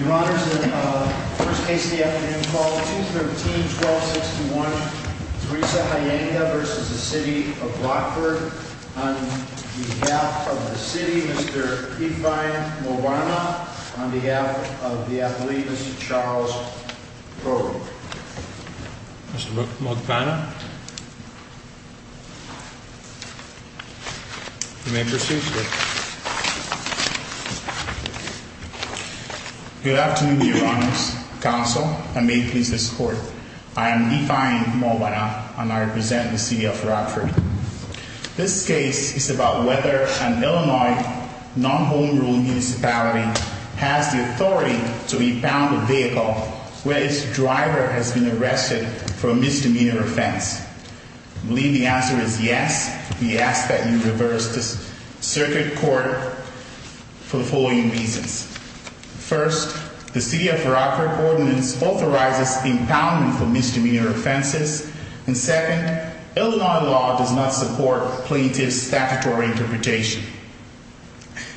Your Honor, in the first case of the afternoon, call 213-1261, Teresa Huyenga v. City of Rockford On behalf of the City, Mr. Ifean Mogbana On behalf of the Athlete, Mr. Charles Crow Mr. Mogbana You may proceed, sir Good afternoon, Your Honors, Counsel, and may it please this Court I am Ifean Mogbana, and I represent the City of Rockford This case is about whether an Illinois non-home rule municipality has the authority to impound a vehicle where its driver has been arrested for a misdemeanor offense I believe the answer is yes We ask that you reverse this circuit court for the following reasons First, the City of Rockford Ordinance authorizes impoundment for misdemeanor offenses And second, Illinois law does not support plaintiff's statutory interpretation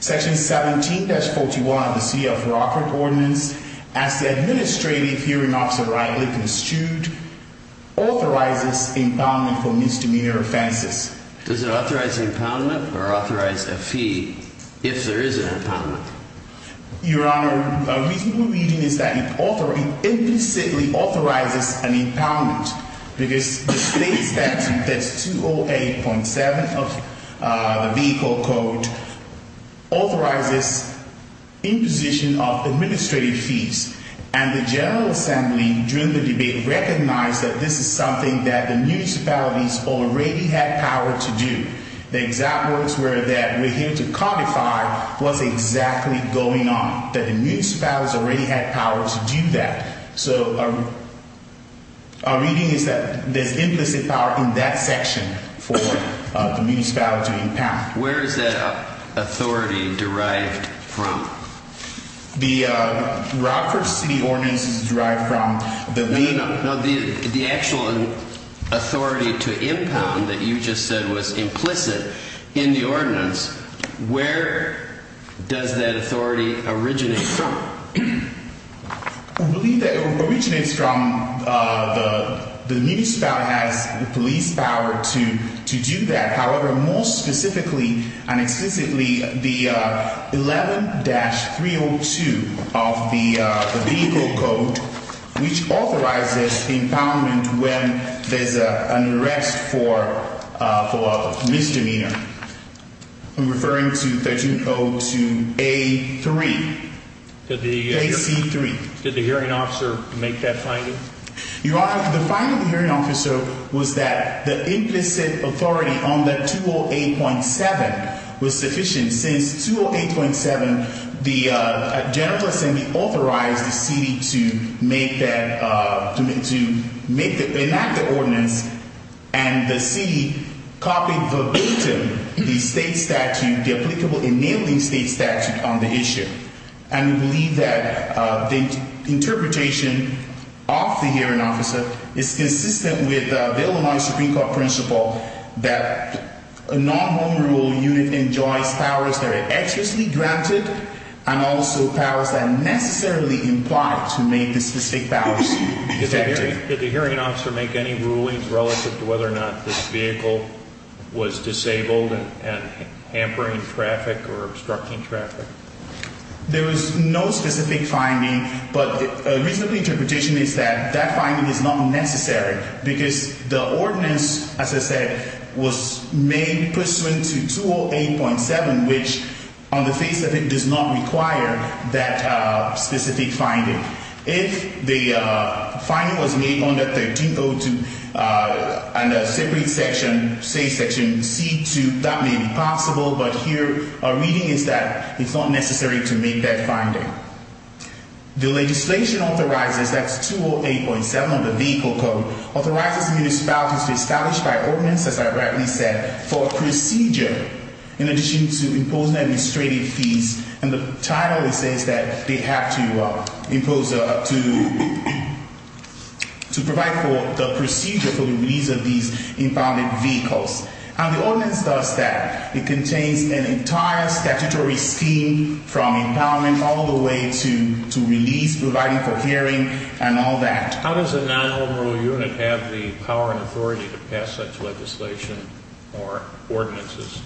Section 17-41 of the City of Rockford Ordinance, as the Administrative Hearing Officer rightly construed, authorizes impoundment for misdemeanor offenses Does it authorize impoundment or authorize a fee if there is an impoundment? Your Honor, a reasonable reading is that it implicitly authorizes an impoundment Because the state statute, that's 208.7 of the Vehicle Code, authorizes imposition of administrative fees And the General Assembly, during the debate, recognized that this is something that the municipalities already had power to do The exact words were that we're here to codify what's exactly going on That the municipalities already had power to do that So our reading is that there's implicit power in that section for the municipalities to impound Where is that authority derived from? The Rockford City Ordinance is derived from The actual authority to impound that you just said was implicit in the ordinance Where does that authority originate from? I believe that it originates from the municipalities that has the police power to do that However, more specifically and explicitly, the 11-302 of the Vehicle Code Which authorizes impoundment when there's an arrest for a misdemeanor I'm referring to 1302A.3 Did the hearing officer make that finding? Your Honor, the finding of the hearing officer was that the implicit authority on the 208.7 was sufficient Since 208.7, the General Assembly authorized the city to enact the ordinance And the city copied verbatim the applicable enabling state statute on the issue And we believe that the interpretation of the hearing officer is consistent with the Illinois Supreme Court principle That a non-homeroom unit enjoys powers that are excessively granted And also powers that necessarily imply to make the specific powers effective Did the hearing officer make any rulings relative to whether or not this vehicle was disabled and hampering traffic or obstructing traffic? There was no specific finding, but a reasonable interpretation is that that finding is not necessary Because the ordinance, as I said, was made pursuant to 208.7 Which, on the face of it, does not require that specific finding If the finding was made under 1302 and a separate section, say Section C.2 That may be possible, but here our reading is that it's not necessary to make that finding The legislation authorizes, that's 208.7 of the Vehicle Code Authorizes municipalities to establish by ordinance, as I rightly said, for a procedure In addition to imposing administrative fees And the title says that they have to provide for the procedure for the release of these impounded vehicles And the ordinance does that. It contains an entire statutory scheme from impoundment all the way to release, providing for hearing, and all that How does a non-homeroom unit have the power and authority to pass such legislation or ordinances?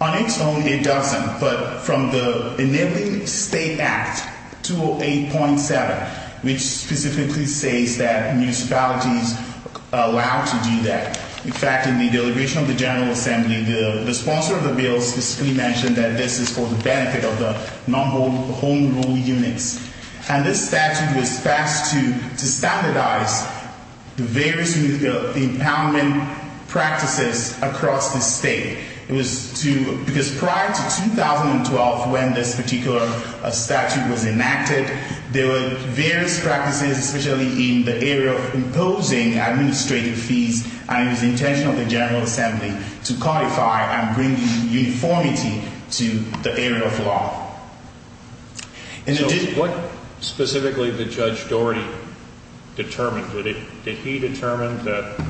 On its own, it doesn't, but from the enabling state act, 208.7 Which specifically says that municipalities are allowed to do that In fact, in the delegation of the General Assembly, the sponsor of the bill specifically mentioned that this is for the benefit of the non-homeroom units And this statute was passed to standardize the various impoundment practices across the state Because prior to 2012, when this particular statute was enacted, there were various practices, especially in the area of imposing administrative fees And it was the intention of the General Assembly to codify and bring uniformity to the area of law So what specifically did Judge Doherty determine? Did he determine that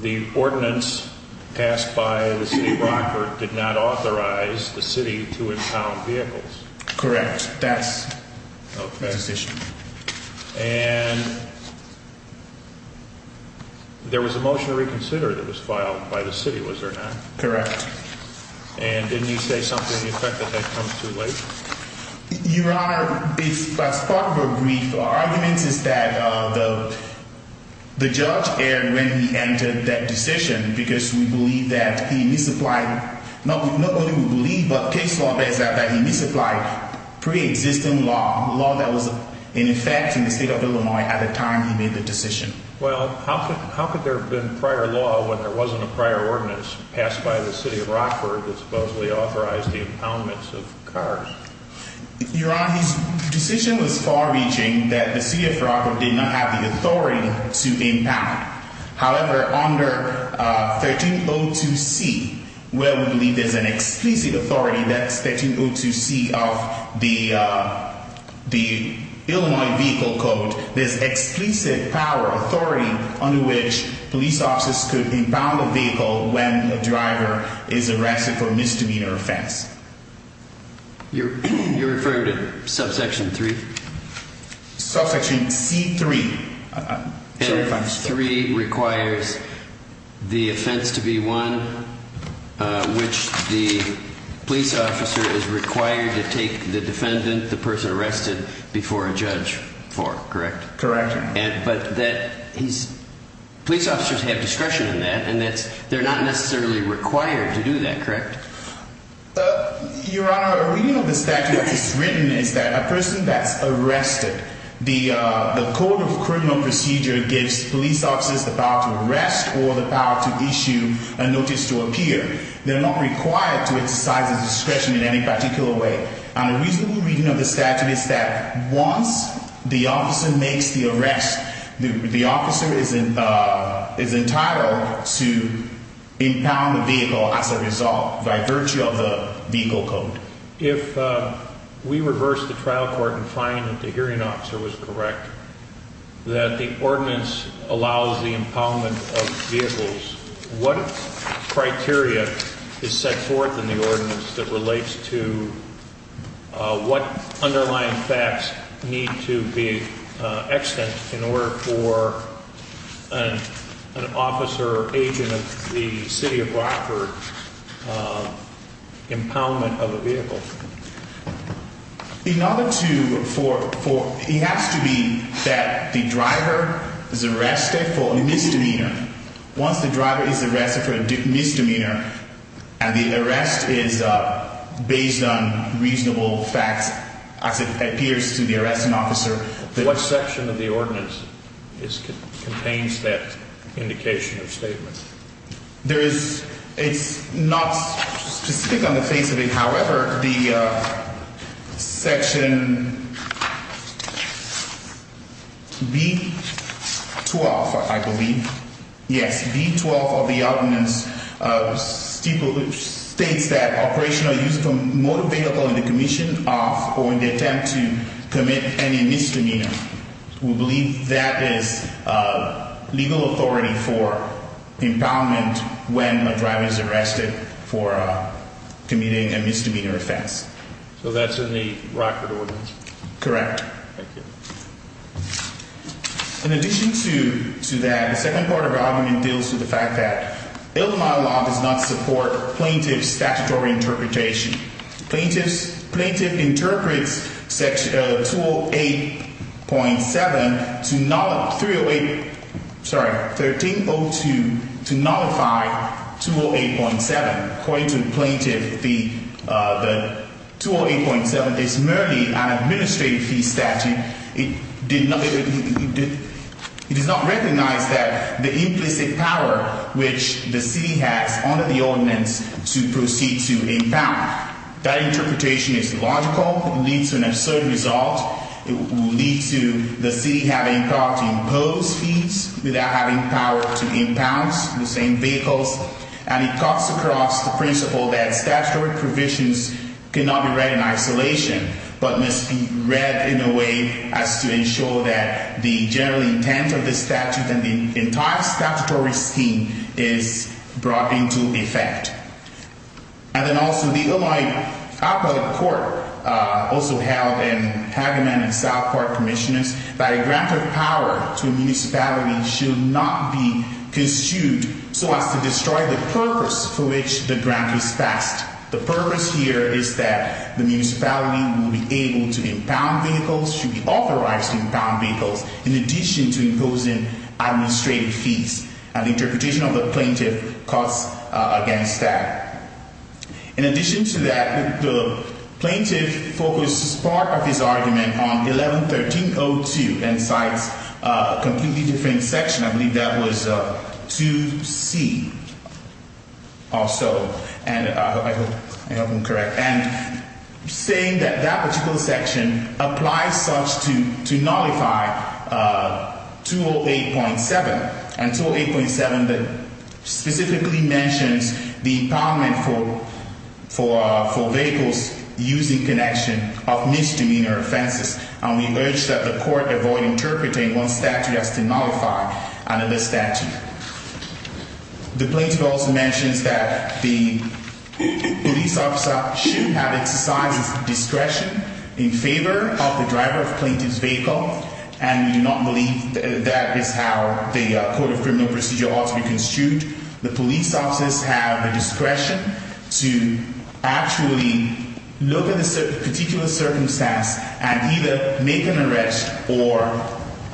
the ordinance passed by the city of Rockford did not authorize the city to impound vehicles? Correct. That's the decision And there was a motion to reconsider that was filed by the city, was there not? Correct And didn't he say something effective that comes too late? Your Honor, as part of a brief, our argument is that the judge erred when he entered that decision Because we believe that he misapplied, not only we believe, but case law says that he misapplied pre-existing law Law that was in effect in the state of Illinois at the time he made the decision Well, how could there have been prior law when there wasn't a prior ordinance passed by the city of Rockford that supposedly authorized the impoundments of cars? Your Honor, his decision was far-reaching that the city of Rockford did not have the authority to impound However, under 1302C, where we believe there's an explicit authority, that's 1302C of the Illinois Vehicle Code There's explicit power, authority under which police officers could impound a vehicle when a driver is arrested for misdemeanor offense You're referring to subsection 3? Subsection C3 Subsection C3 requires the offense to be one which the police officer is required to take the defendant, the person arrested, before a judge for, correct? Correct But police officers have discretion in that and they're not necessarily required to do that, correct? Your Honor, a reading of the statute that's written is that a person that's arrested, the Code of Criminal Procedure gives police officers the power to arrest or the power to issue a notice to appear They're not required to exercise their discretion in any particular way And a reasonable reading of the statute is that once the officer makes the arrest, the officer is entitled to impound the vehicle as a result, by virtue of the Vehicle Code Your Honor, if we reverse the trial court and find that the hearing officer was correct, that the ordinance allows the impoundment of vehicles What criteria is set forth in the ordinance that relates to what underlying facts need to be extant in order for an officer or agent of the city of Rockford impoundment of a vehicle? In order to, it has to be that the driver is arrested for a misdemeanor. Once the driver is arrested for a misdemeanor and the arrest is based on reasonable facts as it appears to the arresting officer What section of the ordinance contains that indication or statement? There is, it's not specific on the face of it, however, the section B-12, I believe, yes, B-12 of the ordinance states that operational use of a motor vehicle in the commission of or in the attempt to commit any misdemeanor We believe that is legal authority for impoundment when a driver is arrested for committing a misdemeanor offense. So that's in the Rockford ordinance? Correct. Thank you. In addition to that, the second part of the argument deals with the fact that Illinois law does not support plaintiff's statutory interpretation. Plaintiff interprets section 208.7, 308, sorry, 1302 to nullify 208.7. According to the plaintiff, the 208.7 is merely an administrative fee statute. And it does not recognize that the implicit power which the city has under the ordinance to proceed to impound. That interpretation is logical, leads to an absurd result. It will lead to the city having power to impose fees without having power to impound the same vehicles. And it cuts across the principle that statutory provisions cannot be read in isolation, but must be read in a way as to ensure that the general intent of the statute and the entire statutory scheme is brought into effect. And then also the Illinois Appellate Court also held in Hagaman and South Park Commissioners that a grant of power to a municipality should not be construed so as to destroy the purpose for which the grant is passed. The purpose here is that the municipality will be able to impound vehicles, should be authorized to impound vehicles, in addition to imposing administrative fees. And the interpretation of the plaintiff cuts against that. In addition to that, the plaintiff focuses part of his argument on 11-1302 and cites a completely different section. I believe that was 2C or so. And I hope I'm correct. And saying that that particular section applies such to nullify 208.7. And 208.7 specifically mentions the impoundment for vehicles using connection of misdemeanor offenses. And we urge that the court avoid interpreting one statute as to nullify another statute. The plaintiff also mentions that the police officer should have exercise discretion in favor of the driver of plaintiff's vehicle. And we do not believe that is how the Court of Criminal Procedure ought to be construed. The police officers have the discretion to actually look at the particular circumstance and either make an arrest or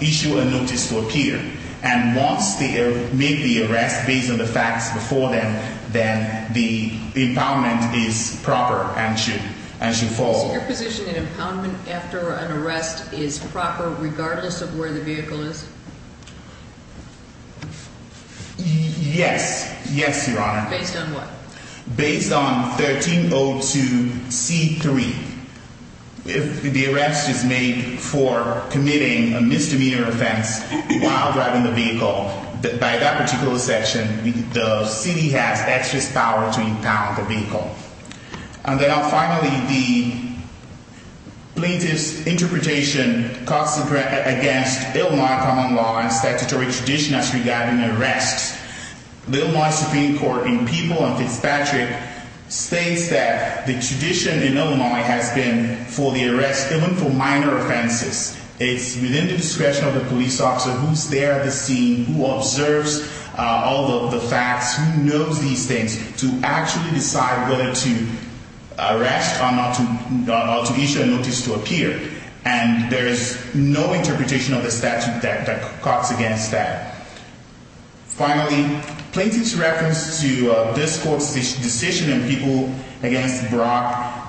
issue a notice to appear. And once they make the arrest based on the facts before them, then the impoundment is proper and should fall. So your position in impoundment after an arrest is proper regardless of where the vehicle is? Yes. Yes, Your Honor. Based on what? Based on 1302C.3. If the arrest is made for committing a misdemeanor offense while driving the vehicle, by that particular section, the city has excess power to impound the vehicle. And then finally, the plaintiff's interpretation costs against Illinois common law and statutory tradition as regarding arrests. The Illinois Supreme Court in People and Fitzpatrick states that the tradition in Illinois has been for the arrest, even for minor offenses, it's within the discretion of the police officer who's there at the scene, who observes all of the facts, who knows these things, to actually decide whether to arrest or to issue a notice to appear. And there is no interpretation of the statute that costs against that. Finally, the plaintiff's reference to this court's decision in People v. Brock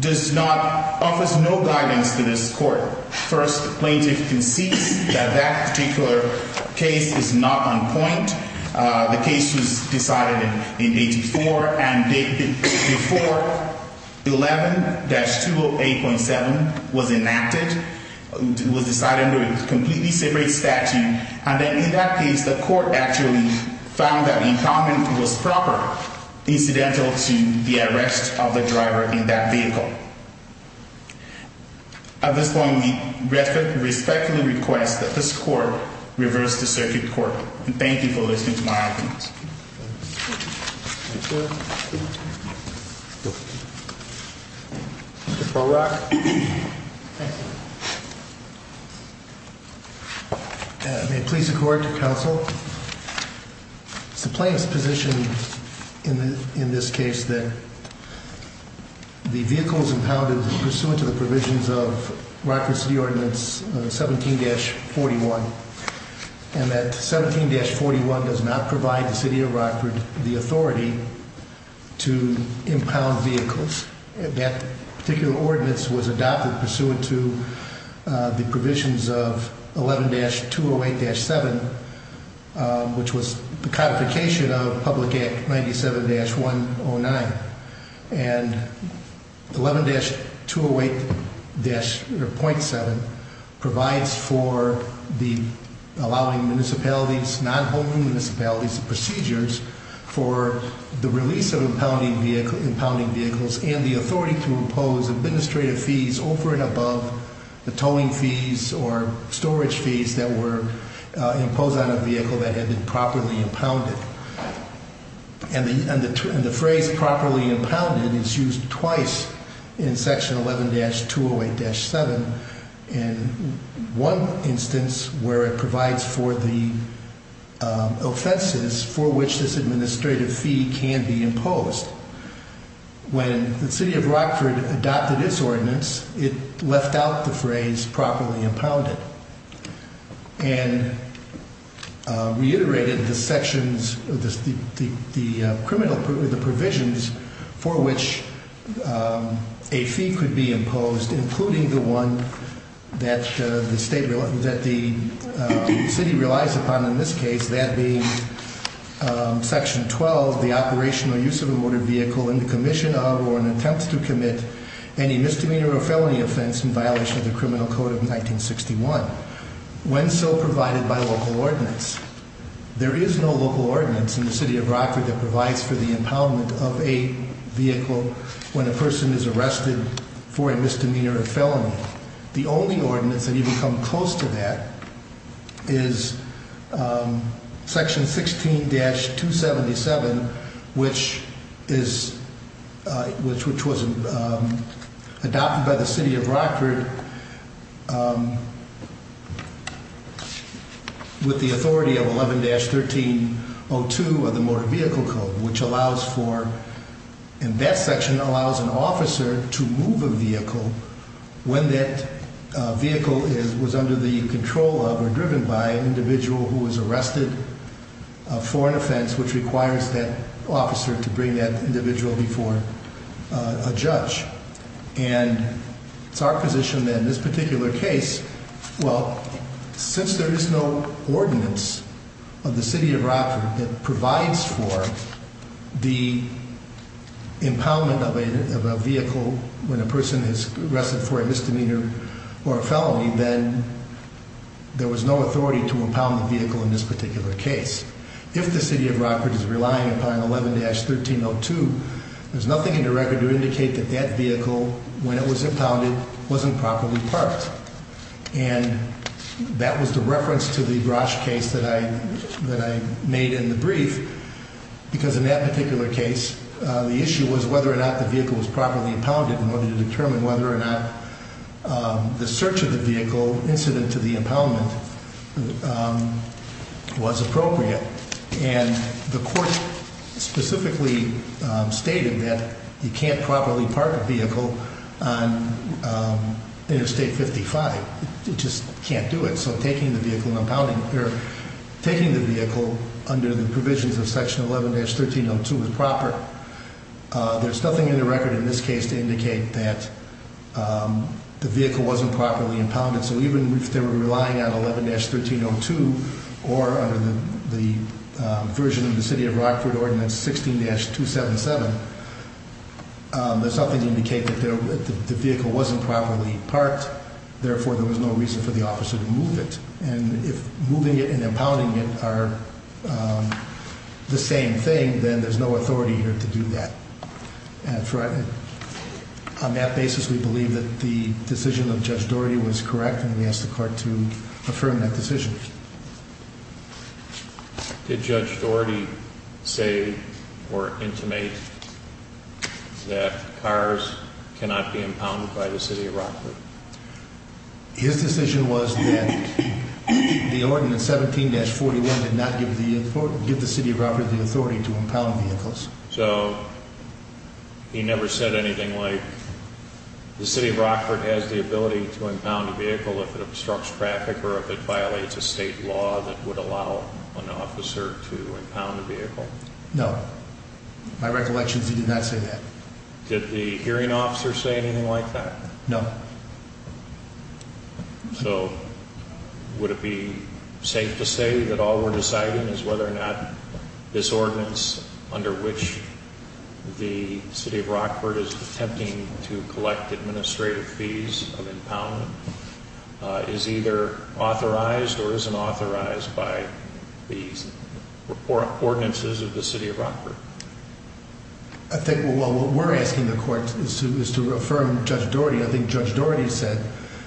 offers no guidance to this court. First, the plaintiff concedes that that particular case is not on point. The case was decided in 84, and before 11-208.7 was enacted, it was decided under a completely separate statute. And then in that case, the court actually found that the impoundment was proper, incidental to the arrest of the driver in that vehicle. At this point, we respectfully request that this court reverse the circuit court. And thank you for listening to my opinions. Mr. Brock. It's the plaintiff's position in this case that the vehicle's impounded pursuant to the provisions of Rockford City Ordinance 17-41, and that 17-41 does not provide the City of Rockford the authority to impound vehicles. That particular ordinance was adopted pursuant to the provisions of 11-208-7, which was the codification of Public Act 97-109. And 11-208.7 provides for the allowing municipalities, non-homing municipalities, the procedures for the release of impounding vehicles and the authority to impose administrative fees over and above the towing fees or storage fees that were imposed on a vehicle that had been properly impounded. And the phrase properly impounded is used twice in Section 11-208-7. And one instance where it provides for the offenses for which this administrative fee can be imposed. When the City of Rockford adopted its ordinance, it left out the phrase properly impounded and reiterated the sections of the criminal provisions for which a fee could be imposed, including the one that the City relies upon in this case, that being Section 12, the operational use of a motor vehicle in the commission of or an attempt to commit any misdemeanor or felony offense in violation of the Criminal Code of 1961, when so provided by local ordinance. There is no local ordinance in the City of Rockford that provides for the impoundment of a vehicle when a person is arrested for a misdemeanor or felony. The only ordinance that even comes close to that is Section 16-277, which was adopted by the City of Rockford with the authority of 11-1302 of the Motor Vehicle Code, which allows for, in that section, allows an officer to move a vehicle when that vehicle was under the control of or driven by an individual who was arrested for an offense which requires that officer to bring that individual before a judge. And it's our position that in this particular case, well, since there is no ordinance of the City of Rockford that provides for the impoundment of a vehicle when a person is arrested for a misdemeanor or a felony, then there was no authority to impound the vehicle in this particular case. If the City of Rockford is relying upon 11-1302, there's nothing in the record to indicate that that vehicle, when it was impounded, wasn't properly parked. And that was the reference to the Grosh case that I made in the brief, because in that particular case, the issue was whether or not the vehicle was properly impounded in order to determine whether or not the search of the vehicle, incident to the impoundment, was appropriate. And the court specifically stated that you can't properly park a vehicle on Interstate 55. You just can't do it. So taking the vehicle under the provisions of Section 11-1302 is proper. There's nothing in the record in this case to indicate that the vehicle wasn't properly impounded. So even if they were relying on 11-1302 or under the version of the City of Rockford Ordinance 16-277, there's nothing to indicate that the vehicle wasn't properly parked. Therefore, there was no reason for the officer to move it. And if moving it and impounding it are the same thing, then there's no authority here to do that. On that basis, we believe that the decision of Judge Dougherty was correct, and we ask the court to affirm that decision. Did Judge Dougherty say or intimate that cars cannot be impounded by the City of Rockford? His decision was that the Ordinance 17-41 did not give the City of Rockford the authority to impound vehicles. So he never said anything like the City of Rockford has the ability to impound a vehicle if it obstructs traffic or if it violates a state law that would allow an officer to impound a vehicle? No. My recollection is he did not say that. Did the hearing officer say anything like that? No. So would it be safe to say that all we're deciding is whether or not this ordinance, under which the City of Rockford is attempting to collect administrative fees of impoundment, is either authorized or isn't authorized by the ordinances of the City of Rockford? I think what we're asking the court is to affirm Judge Dougherty. I think Judge Dougherty said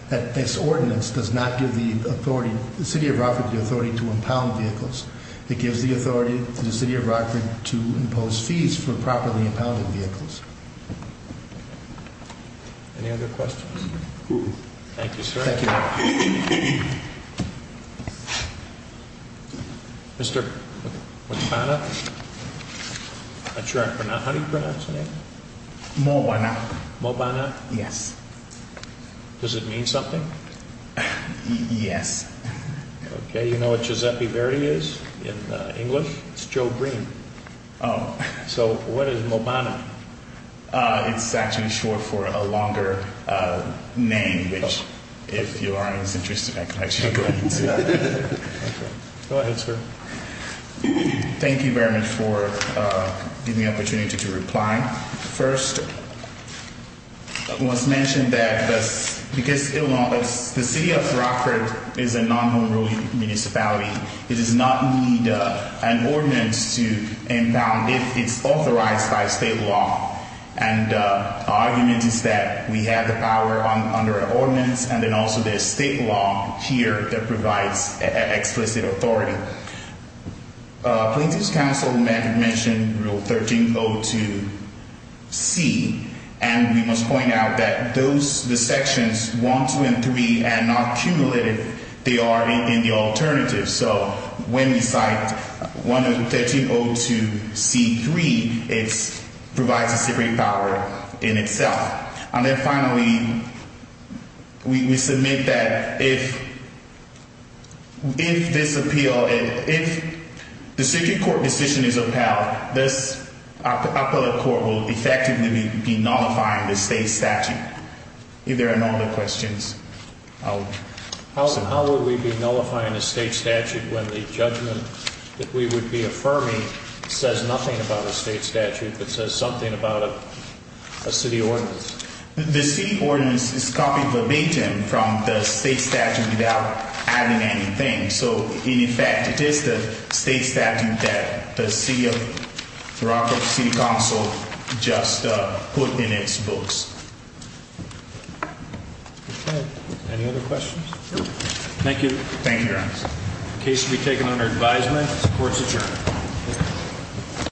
that this ordinance does not give the City of Rockford the authority to impound vehicles. It gives the authority to the City of Rockford to impose fees for properly impounded vehicles. Any other questions? Thank you, sir. Thank you. Mr. Mobana? I'm not sure how you pronounce his name. Mobana. Mobana? Yes. Does it mean something? Yes. Okay, you know what Giuseppe Verdi is in English? It's Joe Green. So what is Mobana? It's actually short for a longer name, which if Your Honor is interested, I can actually go into. Go ahead, sir. Thank you very much for giving me the opportunity to reply. First, it was mentioned that because the City of Rockford is a non-home rule municipality, it does not need an ordinance to impound if it's authorized by state law. And our argument is that we have the power under our ordinance and then also there's state law here that provides explicit authority. Plaintiff's counsel mentioned Rule 1302C, and we must point out that the sections 1, 2, and 3 are not cumulative. They are in the alternative. So when we cite 1302C.3, it provides a separate power in itself. And then finally, we submit that if this appeal, if the circuit court decision is upheld, this appellate court will effectively be nullifying the state statute. If there are no other questions. How would we be nullifying a state statute when the judgment that we would be affirming says nothing about a state statute but says something about a city ordinance? The city ordinance is copied verbatim from the state statute without adding anything. So, in effect, it is the state statute that the City of Rockford City Council just put in its books. Okay. Any other questions? No. Thank you. Thank you, Your Honor. The case should be taken under advisement. The court is adjourned.